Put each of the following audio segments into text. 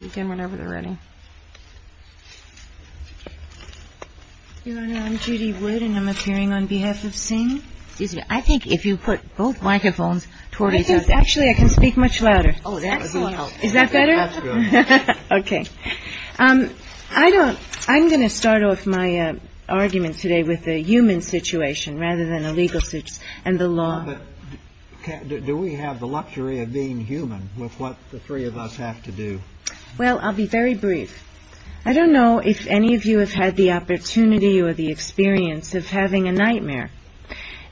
Do we have the luxury of being human with what the three of us have to do? Well, I'll be very brief. I don't know if any of you have had the opportunity or the experience of having a nightmare.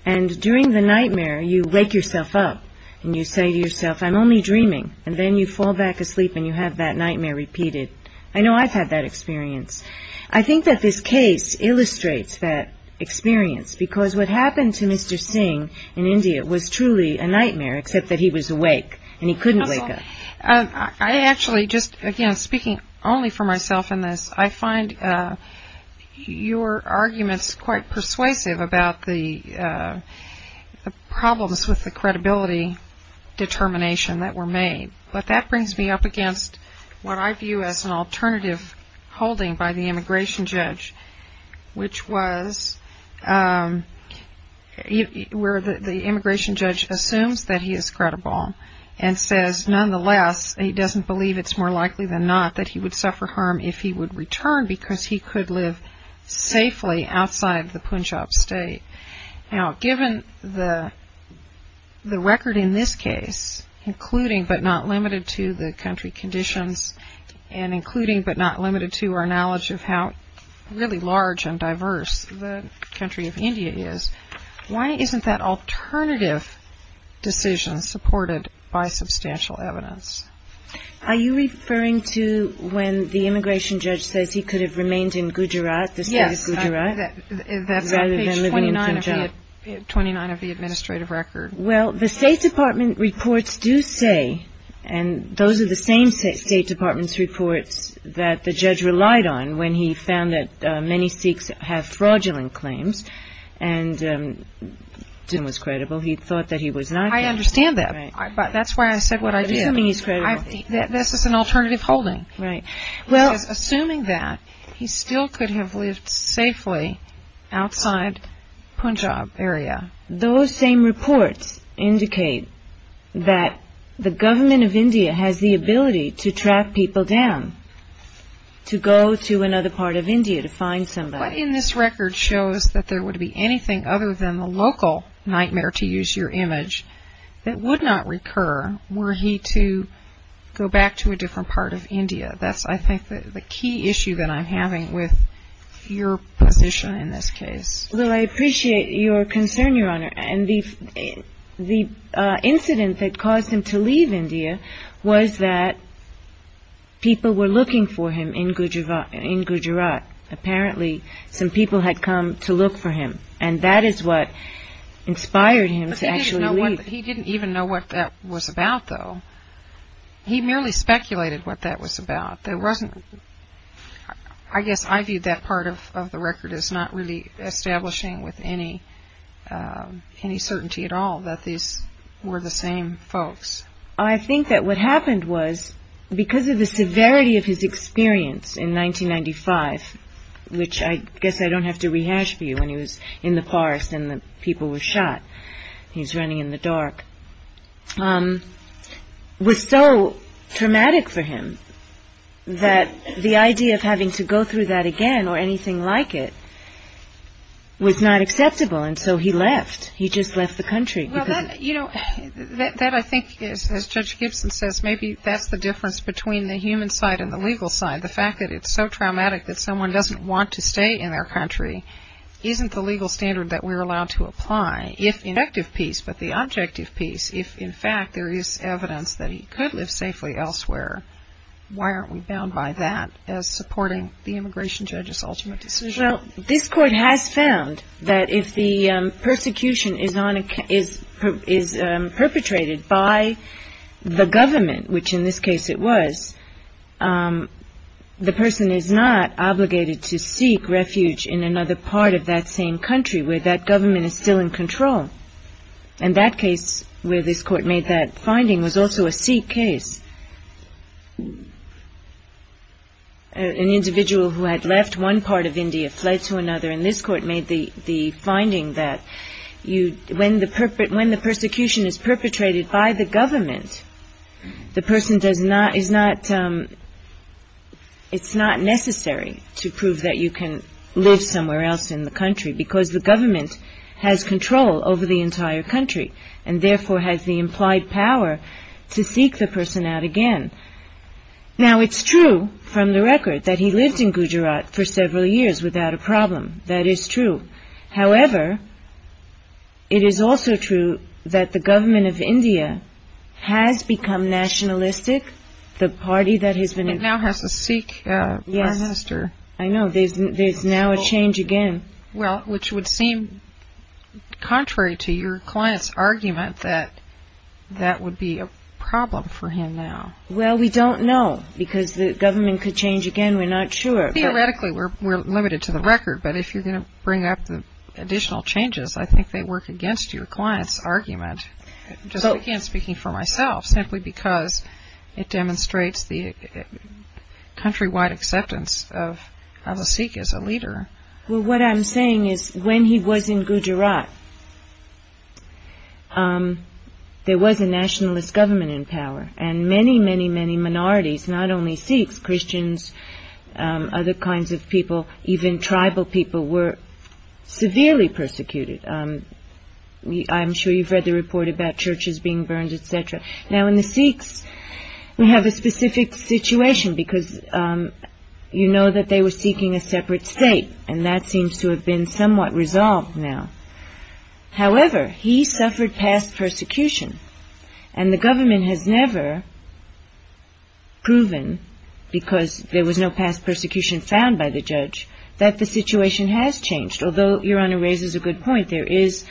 And during the nightmare, you wake yourself up and you say to yourself, I'm only dreaming. And then you fall back asleep and you have that nightmare repeated. I know I've had that experience. I think that this case illustrates that experience because what happened to Mr. Singh in India was truly a nightmare, except that he was awake and he couldn't wake up. I actually, just again speaking only for myself in this, I find your arguments quite persuasive about the problems with the credibility determination that were made. But that brings me up against what I view as an alternative holding by the immigration judge, which was where the immigration judge assumes that he is credible and says, nonetheless, he doesn't believe it's more likely than not that he would suffer harm if he would return because he could live safely outside the Punjab state. Now, given the record in this case, including but not limited to the country conditions, and including but not limited to our knowledge of how really large and diverse the country of India is, why isn't that alternative decision supported by substantial evidence? Are you referring to when the immigration judge says he could have remained in Gujarat, the state of Gujarat, rather than living in Punjab? Yes. That's on page 29 of the administrative record. Well, the State Department reports do say, and those are the same State Department's reports that the judge relied on when he found that many Sikhs have fraudulent claims and didn't think he was credible. He thought that he was not credible. I understand that, but that's why I said what I did. But assuming he's credible. This is an alternative holding. Right. He says, assuming that, he still could have lived safely outside Punjab area. Those same reports indicate that the government of India has the ability to trap people down, to go to another part of India to find somebody. What in this record shows that there would be anything other than the local nightmare, to use your image, that would not recur were he to go back to a different part of India? That's I think the key issue that I'm having with your position in this case. Well, I appreciate your concern, Your Honor. And the incident that caused him to leave India was that people were looking for him in Gujarat. Apparently, some people had come to look for him. And that is what inspired him to actually leave. He didn't even know what that was about, though. He merely speculated what that was about. There wasn't, I guess I viewed that part of the record as not really establishing with any certainty at all that these were the same folks. I think that what happened was, because of the severity of his experience in 1995, which I guess I don't have to rehash for you, when he was in the forest and the people were shot, he's running in the dark, was so traumatic for him that the idea of having to go through that again or anything like it was not acceptable. And so he left. He just left the country. You know, that I think, as Judge Gibson says, maybe that's the difference between the human side and the legal side. The fact that it's so traumatic that someone doesn't want to stay in their country isn't the legal standard that we're allowed to apply if the objective piece, if in fact there is evidence that he could live safely elsewhere, why aren't we bound by that as supporting the immigration judge's ultimate decision? Well, this Court has found that if the persecution is perpetrated by the government, which in this case it was, the person is not obligated to seek refuge in another part of that same country where that government is still in control. And that case where this Court made that finding was also a Sikh case. An individual who had left one part of India fled to another, and this Court made the finding that when the persecution is perpetrated by the government, the person does not, it's not necessary to prove that you can live somewhere else in the country because the government has control over the entire country and therefore has the implied power to seek the person out again. Now, it's true from the record that he lived in Gujarat for several years without a problem. That is true. However, it is also true that the government of India has become nationalistic, the party that has been... It now has a Sikh Prime Minister. Yes. I know. There's now a change again. Well, which would seem contrary to your client's argument that that would be a problem for him now. Well, we don't know because the government could change again. We're not sure. Theoretically, we're limited to the record, but if you're going to bring up the additional changes, I think they work against your client's argument, just again speaking for myself, simply because it demonstrates the countrywide acceptance of a Sikh as a leader. Well, what I'm saying is when he was in Gujarat, there was a nationalist government in power, and many, many, many minorities, not only Sikhs, Christians, other kinds of people, even tribal people were severely persecuted. I'm sure you've read the report about churches being burned, et cetera. Now, in the Sikhs, we have a specific situation because you know that they were seeking a separate state, and that seems to have been somewhat resolved now. However, he suffered past persecution, and the government has never proven, because there was no past persecution found by the judge, that the situation has changed, although Your Honor raises a good point. There is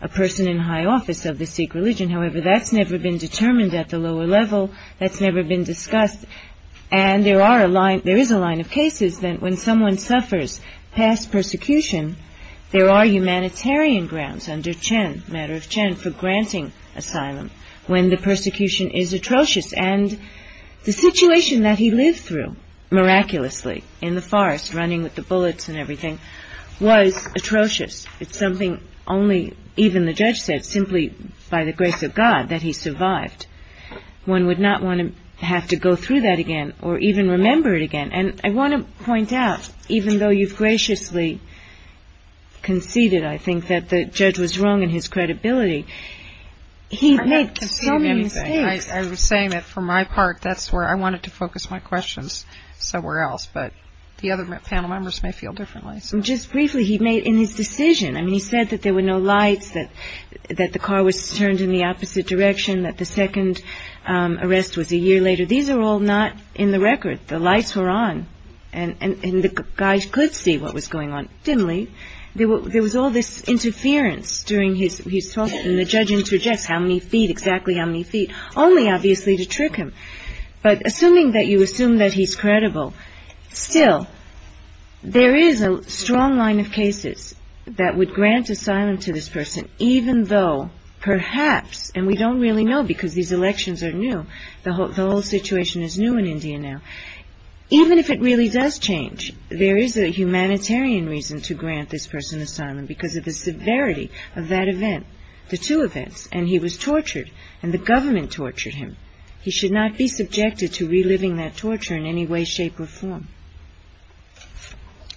a person in high office of the Sikh religion. However, that's never been determined at the lower level. That's never been discussed. And there is a line of cases that when someone suffers past persecution, there are humanitarian grounds under Chen, matter of Chen, for granting asylum when the persecution is atrocious. And the situation that he lived through miraculously in the forest running with the bullets and everything was atrocious. It's something only even the judge said simply by the grace of God that he survived. One would not want to have to go through that again or even remember it again. And I want to point out, even though you've graciously conceded, I think, that the judge was wrong in his credibility, he made so many mistakes. I was saying that for my part, that's where I wanted to focus my questions, somewhere else. But the other panel members may feel differently. So just briefly, he made in his decision, I mean, he said that there were no lights, that the car was turned in the opposite direction, that the second arrest was a year later. These are all not in the record. The lights were on and the guys could see what was going on. He didn't leave. There was all this interference during his talk and the judge interjects, how many feet, exactly how many feet, only obviously to trick him. But assuming that you assume that he's credible, still, there is a strong line of cases that would grant asylum to this person, even though perhaps, and we don't really know because these elections are new, the whole situation is new in India now. Even if it really does change, there is a humanitarian reason to grant this person asylum because of the severity of that event, the two events, and he was tortured and the government tortured him. He should not be subjected to reliving that torture in any way, shape or form.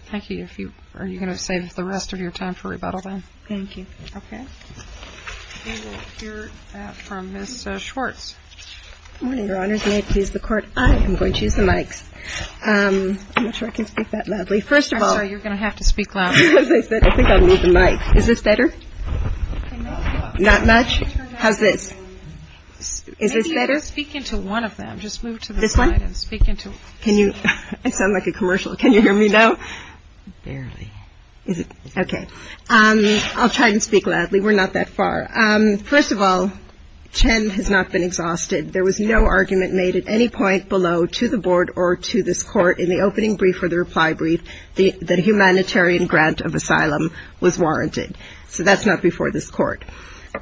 Thank you. If you are, are you going to save the rest of your time for rebuttal, then? Thank you. Okay. We will hear that from Ms. Schwartz. Good morning, Your Honors. May it please the Court. I am going to use the mics. I'm not sure I can speak that loudly. First of all. I'm sorry, you're going to have to speak louder. As I said, I think I'll need the mic. Is this better? Not much? How's this? Is this better? Maybe you can speak into one of them. Just move to the side and speak into. Can you, I sound like a commercial. Can you hear me now? Barely. Okay. I'll try to speak loudly. We're not that far. First of all, Chen has not been exhausted. There was no argument made at any point below to the Board or to this Court in the opening brief or the reply brief that a humanitarian grant of asylum was warranted. So that's not before this Court.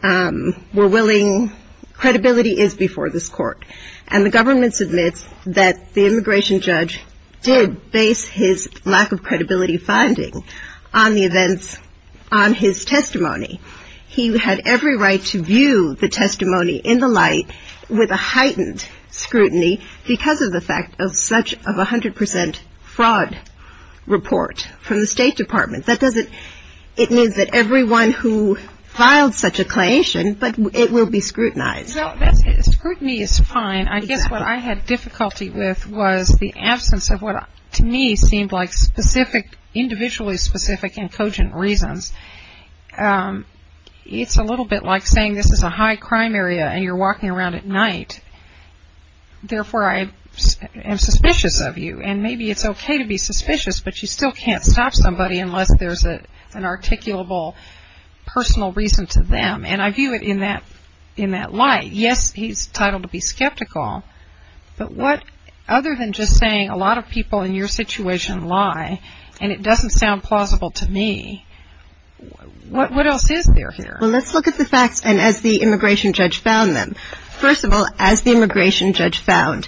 We're willing, credibility is before this Court. And the government submits that the immigration judge did base his lack of credibility finding on the events, on his testimony. He had every right to view the testimony in the light with a heightened scrutiny because of the fact of such of a 100% fraud report from the State Department. That doesn't, it means that everyone who filed such a claimation, but it will be scrutinized. Well, scrutiny is fine. I guess what I had difficulty with was the absence of what to me seemed like specific, individually specific and cogent reasons. It's a little bit like saying this is a high crime area and you're walking around at night. Therefore, I am suspicious of you. And maybe it's okay to be suspicious, but you still can't stop somebody unless there's an articulable personal reason to them. And I view it in that light. Yes, he's entitled to be skeptical. But what, other than just saying a lot of people in your situation lie and it doesn't sound plausible to me, what else is there here? Well, let's look at the facts and as the immigration judge found them. First of all, as the immigration judge found,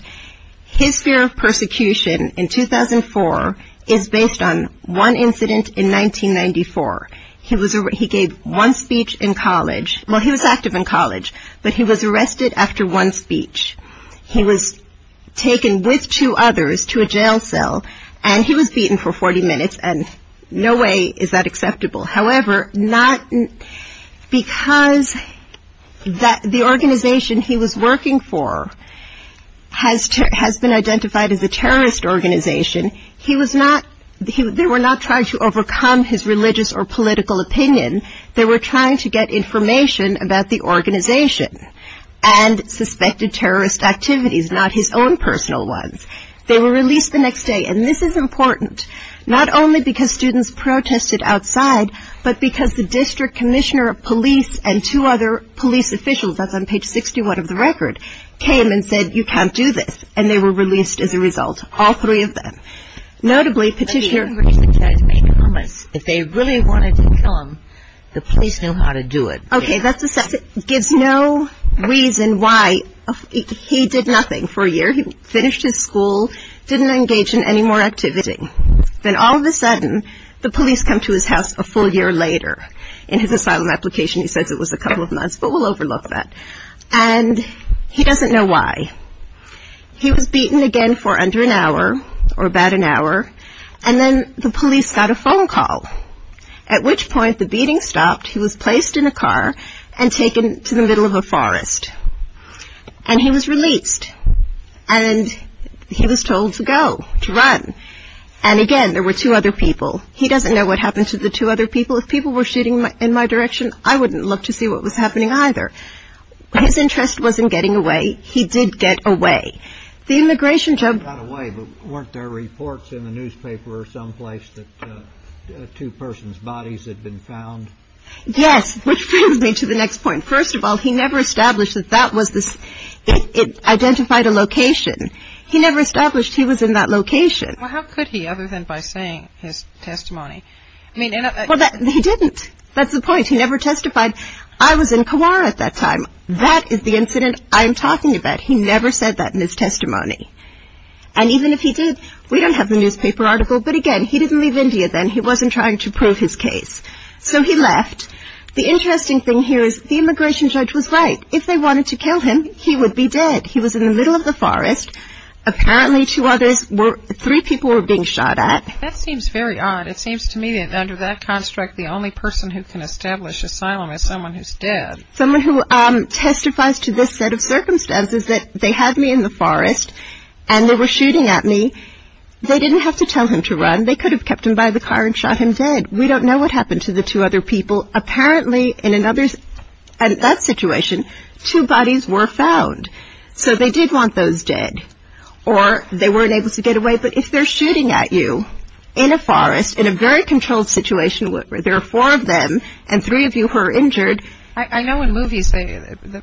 his fear of persecution in 2004 is based on one incident in 1994. He was, he gave one speech in college. Well, he was active in college, but he was arrested after one speech. He was taken with two others to a jail cell and he was beaten for 40 minutes and no way is that acceptable. However, not, because the organization he was working for has been identified as a terrorist organization, he was not, they were not trying to overcome his religious or political opinion, they were trying to get information about the organization and suspected terrorist activities, not his own personal ones. They were released the next day and this is important, not only because students protested outside, but because the district commissioner of police and two other police officials, that's on page 61 of the record, came and said, you can't do this, and they were released as a result, all three of them. Notably, petitioner, if they really wanted to kill him, the police knew how to do it. Okay, that's the second, gives no reason why he did nothing for a year. He finished his school, didn't engage in any more activity. Then all of a sudden, the police come to his house a full year later in his asylum application. He says it was a couple of months, but we'll overlook that. And he doesn't know why. He was beaten again for under an hour, or about an hour, and then the police got a phone call, at which point the beating stopped, he was placed in a car and taken to the middle of a forest. And he was released, and he was told to go, to run. And again, there were two other people. He doesn't know what happened to the two other people. If people were shooting in my direction, I wouldn't look to see what was happening either. His interest was in getting away. He did get away. The immigration job. He got away, but weren't there reports in the newspaper or someplace that two persons' bodies had been found? Yes, which brings me to the next point. First of all, he never established that that was this, it identified a location. He never established he was in that location. Well, how could he, other than by saying his testimony? I mean, in a. Well, he didn't. That's the point. He never testified. I was in Kawara at that time. That is the incident I am talking about. He never said that in his testimony. And even if he did, we don't have the newspaper article. But again, he didn't leave India then. He wasn't trying to prove his case. So he left. The interesting thing here is the immigration judge was right. If they wanted to kill him, he would be dead. He was in the middle of the forest. Apparently, two others were, three people were being shot at. That seems very odd. It seems to me that under that construct, the only person who can establish asylum is someone who's dead. Someone who testifies to this set of circumstances that they had me in the forest and they were shooting at me. They didn't have to tell him to run. They could have kept him by the car and shot him dead. We don't know what happened to the two other people. Apparently, in another situation, two bodies were found. So they did want those dead or they weren't able to get away. But if they're shooting at you in a forest, in a very controlled situation where there are four of them and three of you who are injured. I know in movies, the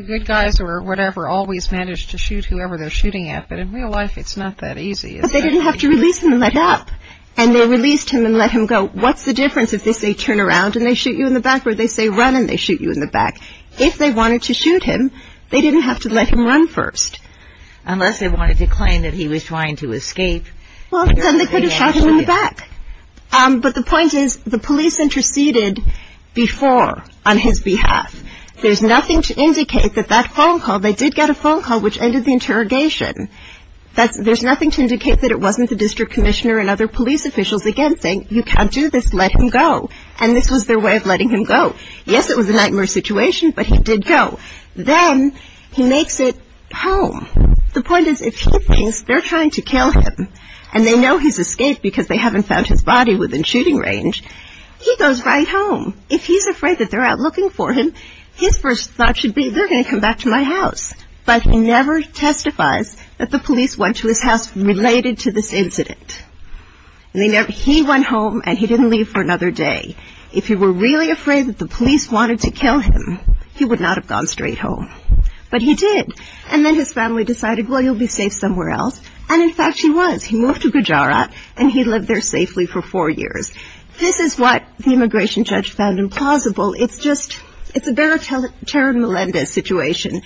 good guys or whatever always managed to shoot whoever they're shooting at. But in real life, it's not that easy. But they didn't have to release him and let up. And they released him and let him go. What's the difference if they say turn around and they shoot you in the back or they say run and they shoot you in the back? If they wanted to shoot him, they didn't have to let him run first. Unless they wanted to claim that he was trying to escape. Well, then they could have shot him in the back. But the point is, the police interceded before on his behalf. There's nothing to indicate that that phone call, they did get a phone call, which ended the interrogation. That's there's nothing to indicate that it wasn't the district commissioner and other police officials against it. You can't do this. Let him go. And this was their way of letting him go. Yes, it was a nightmare situation, but he did go. Then he makes it home. The point is, if he thinks they're trying to kill him and they know he's escaped because they haven't found his body within shooting range, he goes right home. If he's afraid that they're out looking for him, his first thought should be they're going to come back to my house. But he never testifies that the police went to his house related to this incident. And he went home and he didn't leave for another day. If he were really afraid that the police wanted to kill him, he would not have gone straight home. But he did. And then his family decided, well, you'll be safe somewhere else. And in fact, he was. He moved to Gujarat and he lived there safely for four years. This is what the immigration judge found implausible. It's just it's a better terror and Melendez situation.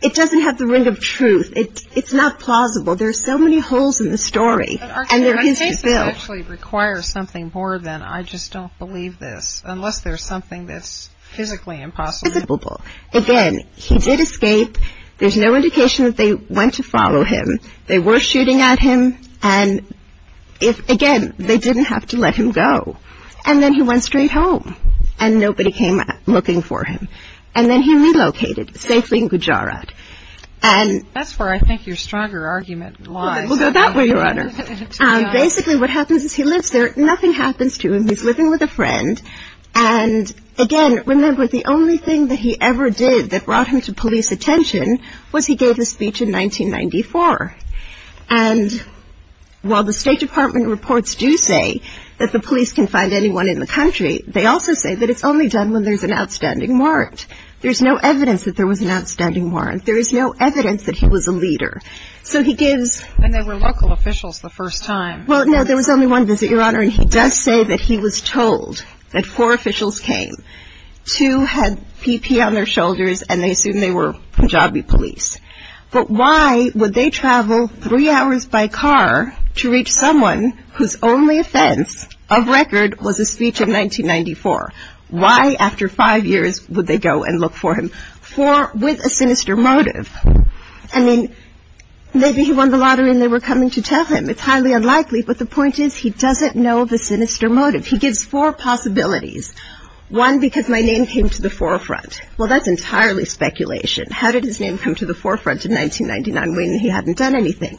It doesn't have the ring of truth. It's not plausible. There's so many holes in the story. And there is actually requires something more than I just don't believe this unless there's something that's physically impossible. Again, he did escape. There's no indication that they went to follow him. They were shooting at him. And if again, they didn't have to let him go. And then he went straight home and nobody came looking for him. And then he relocated safely in Gujarat. And that's where I think your stronger argument will go that way. You're right. Basically, what happens is he lives there. Nothing happens to him. He's living with a friend. And again, remember, the only thing that he ever did that brought him to police attention was he gave a speech in 1994. And while the State Department reports do say that the police can find anyone in the country, they also say that it's only done when there's an outstanding warrant. There's no evidence that there was an outstanding warrant. There is no evidence that he was a leader. So he gives. And they were local officials the first time. Well, no, there was only one visit, Your Honor. And he does say that he was told that four officials came. Two had PP on their shoulders and they assumed they were Punjabi police. But why would they travel three hours by car to reach someone whose only offense of record was a speech in 1994? Why, after five years, would they go and look for him? Four with a sinister motive. I mean, maybe he won the lottery and they were coming to tell him. It's highly unlikely. But the point is he doesn't know the sinister motive. He gives four possibilities. One, because my name came to the forefront. Well, that's entirely speculation. How did his name come to the forefront in 1999 when he hadn't done anything?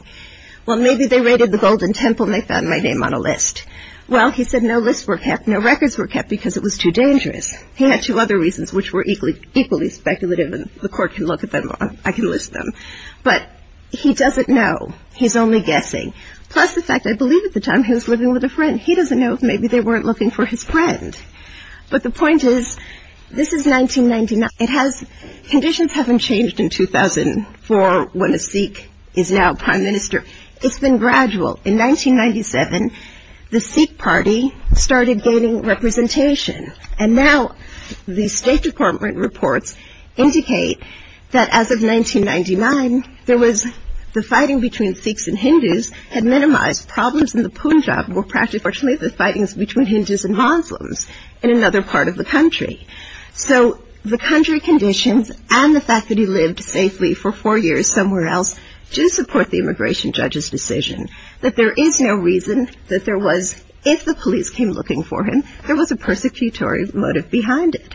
Well, maybe they raided the Golden Temple and they found my name on a list. Well, he said no lists were kept. No records were kept because it was too dangerous. He had two other reasons, which were equally speculative. And the court can look at them. I can list them. But he doesn't know. He's only guessing. Plus the fact I believe at the time he was living with a friend. He doesn't know if maybe they weren't looking for his friend. But the point is, this is 1999. It has, conditions haven't changed in 2004 when a Sikh is now prime minister. It's been gradual. In 1997, the Sikh party started gaining representation. And now the State Department reports indicate that as of 1999, there was the fighting between Sikhs and Hindus had minimized. Problems in the Punjab were practically the fighting between Hindus and Muslims in another part of the country. So the country conditions and the fact that he lived safely for four years somewhere else do support the immigration judge's decision. That there is no reason that there was, if the police came looking for him, there was a persecutory motive behind it.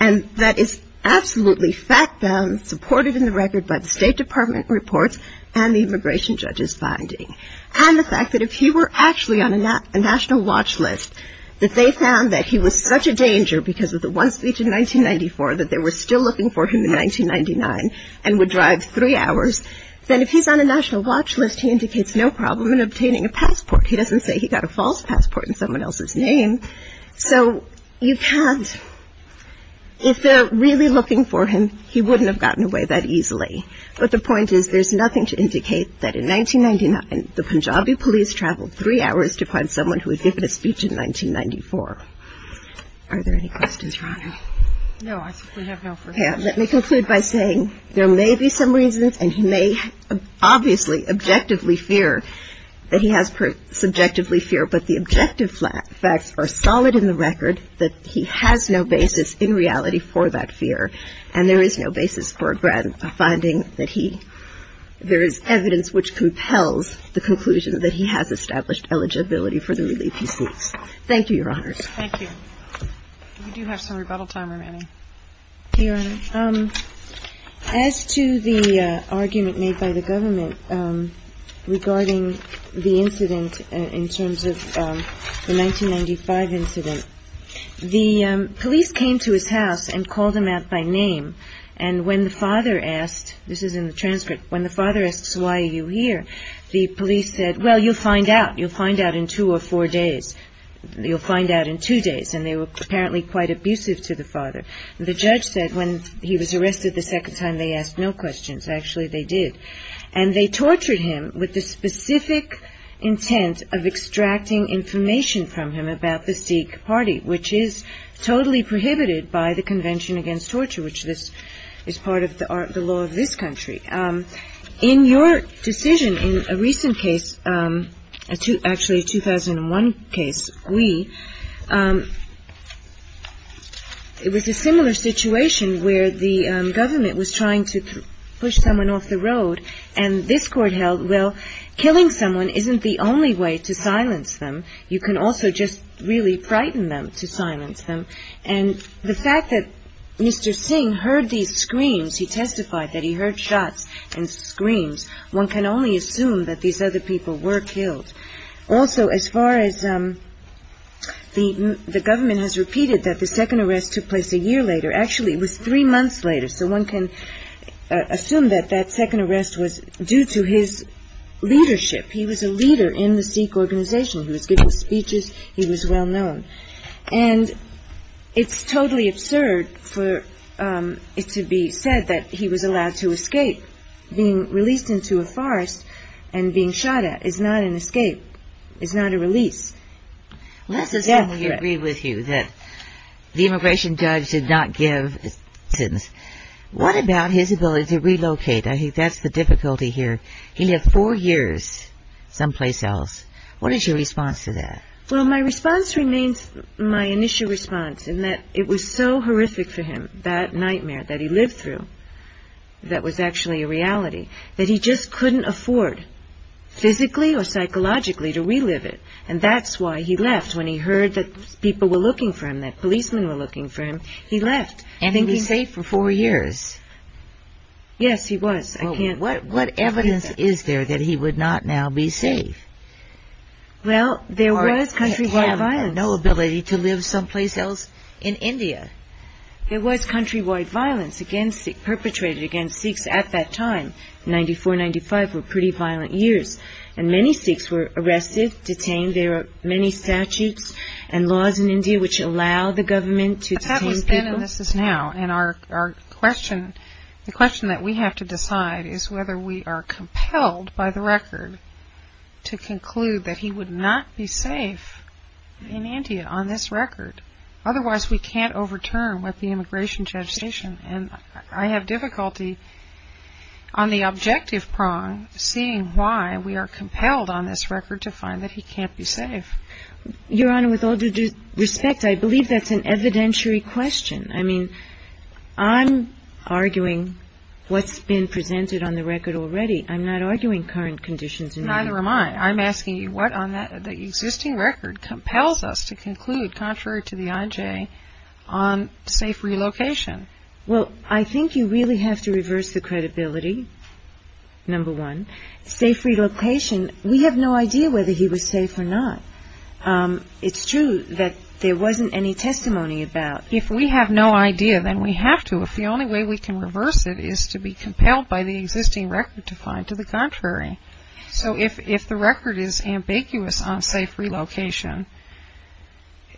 And that is absolutely fact-bound, supported in the record by the State Department reports and the immigration judge's finding. And the fact that if he were actually on a national watch list, that they found that he was such a danger because of the one speech in 1994 that they were still looking for him in 1999 and would drive three hours. Then if he's on a national watch list, he indicates no problem in obtaining a passport. He doesn't say he got a false passport in someone else's name. So you can't, if they're really looking for him, he wouldn't have gotten away that easily. But the point is, there's nothing to indicate that in 1999, the Punjabi police traveled three hours to find someone who had given a speech in 1994. Are there any questions, Your Honor? No, I think we have no further questions. Okay, let me conclude by saying there may be some reasons and he may obviously objectively fear that he has subjectively fear, but the objective facts are solid in the record that he has no basis in reality for that fear. And there is no basis for a finding that he, there is evidence which compels the conclusion that he has established eligibility for the relief he seeks. Thank you, Your Honor. Thank you. We do have some rebuttal time remaining. Your Honor, as to the argument made by the government regarding the incident in terms of the 1995 incident, the police came to his house and called him out by name. And when the father asked, this is in the transcript, when the father asks, why are you here? The police said, well, you'll find out, you'll find out in two or four days. You'll find out in two days. And they were apparently quite abusive to the father. The judge said when he was arrested the second time, they asked no questions. Actually, they did. And they tortured him with the specific intent of extracting information from him about the Sikh party, which is totally prohibited by the Convention Against Torture, which is part of the law of this country. In your decision in a recent case, actually a 2001 case, we, it was a similar situation where the government was trying to push someone off the road. And this court held, well, killing someone isn't the only way to silence them. You can also just really frighten them to silence them. And the fact that Mr. Singh heard these screams, he testified that he heard shots and screams, one can only assume that these other people were killed. Also, as far as the government has repeated that the second arrest took place a year later, actually, it was three months later. So one can assume that that second arrest was due to his leadership. He was a leader in the Sikh organization. He was giving speeches. He was well known. And it's totally absurd for it to be said that he was allowed to escape. Being released into a forest and being shot at is not an escape, is not a release. Let's assume we agree with you that the immigration judge did not give a sentence. What about his ability to relocate? I think that's the difficulty here. He lived four years someplace else. What is your response to that? Well, my response remains my initial response, in that it was so horrific for him, that nightmare that he lived through, that was actually a reality, that he just couldn't afford, physically or psychologically, to relive it. And that's why he left. When he heard that people were looking for him, that policemen were looking for him, he left. And he was safe for four years? Yes, he was. What evidence is there that he would not now be safe? Well, there was country-wide violence. Or he had no ability to live someplace else in India? There was country-wide violence perpetrated against Sikhs at that time. 94, 95 were pretty violent years. And many Sikhs were arrested, detained. There are many statutes and laws in India which allow the government to detain people. But that was then and this is now. And our question, the question that we have to decide is whether we are compelled by the record to conclude that he would not be safe in India on this record. Otherwise, we can't overturn what the immigration judge stationed. And I have difficulty, on the objective prong, seeing why we are compelled on this record to find that he can't be safe. Your Honor, with all due respect, I believe that's an evidentiary question. I mean, I'm arguing what's been presented on the record already. I'm not arguing current conditions in India. Neither am I. I'm asking you what on that, the existing record compels us to conclude, contrary to the IJ, on safe relocation. Well, I think you really have to reverse the credibility, number one. Safe relocation, we have no idea whether he was safe or not. It's true that there wasn't any testimony about. If we have no idea, then we have to. If the only way we can reverse it is to be compelled by the existing record to find to the contrary. So if the record is ambiguous on safe relocation,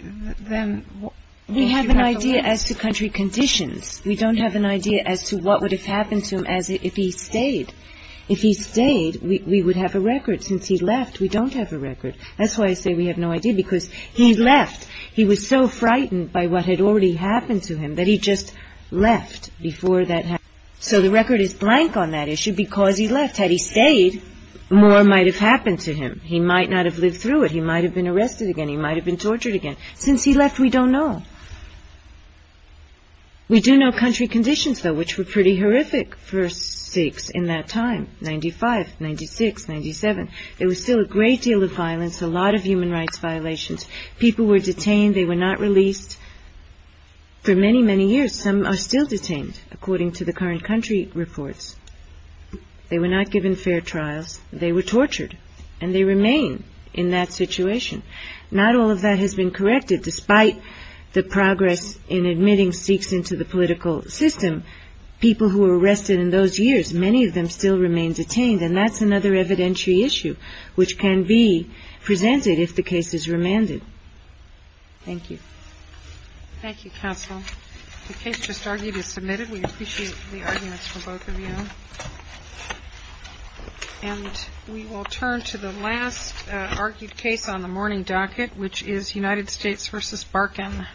then. We have an idea as to country conditions. We don't have an idea as to what would have happened to him as if he stayed. If he stayed, we would have a record. Since he left, we don't have a record. That's why I say we have no idea because he left. He was so frightened by what had already happened to him that he just left before that happened. So the record is blank on that issue because he left. Had he stayed, more might have happened to him. He might not have lived through it. He might have been arrested again. He might have been tortured again. Since he left, we don't know. We do know country conditions, though, which were pretty horrific for Sikhs in that time, 95, 96, 97. There was still a great deal of violence, a lot of human rights violations. People were detained. They were not released for many, many years. Some are still detained, according to the current country reports. They were not given fair trials. They were tortured, and they remain in that situation. Not all of that has been corrected. Despite the progress in admitting Sikhs into the political system, people who were arrested in those years, many of them still remain detained. And that's another evidentiary issue, which can be presented if the case is remanded. Thank you. Thank you, counsel. The case just argued is submitted. We appreciate the arguments from both of you. And we will turn to the last argued case on the morning docket, which is United States versus Barkin. Thank you.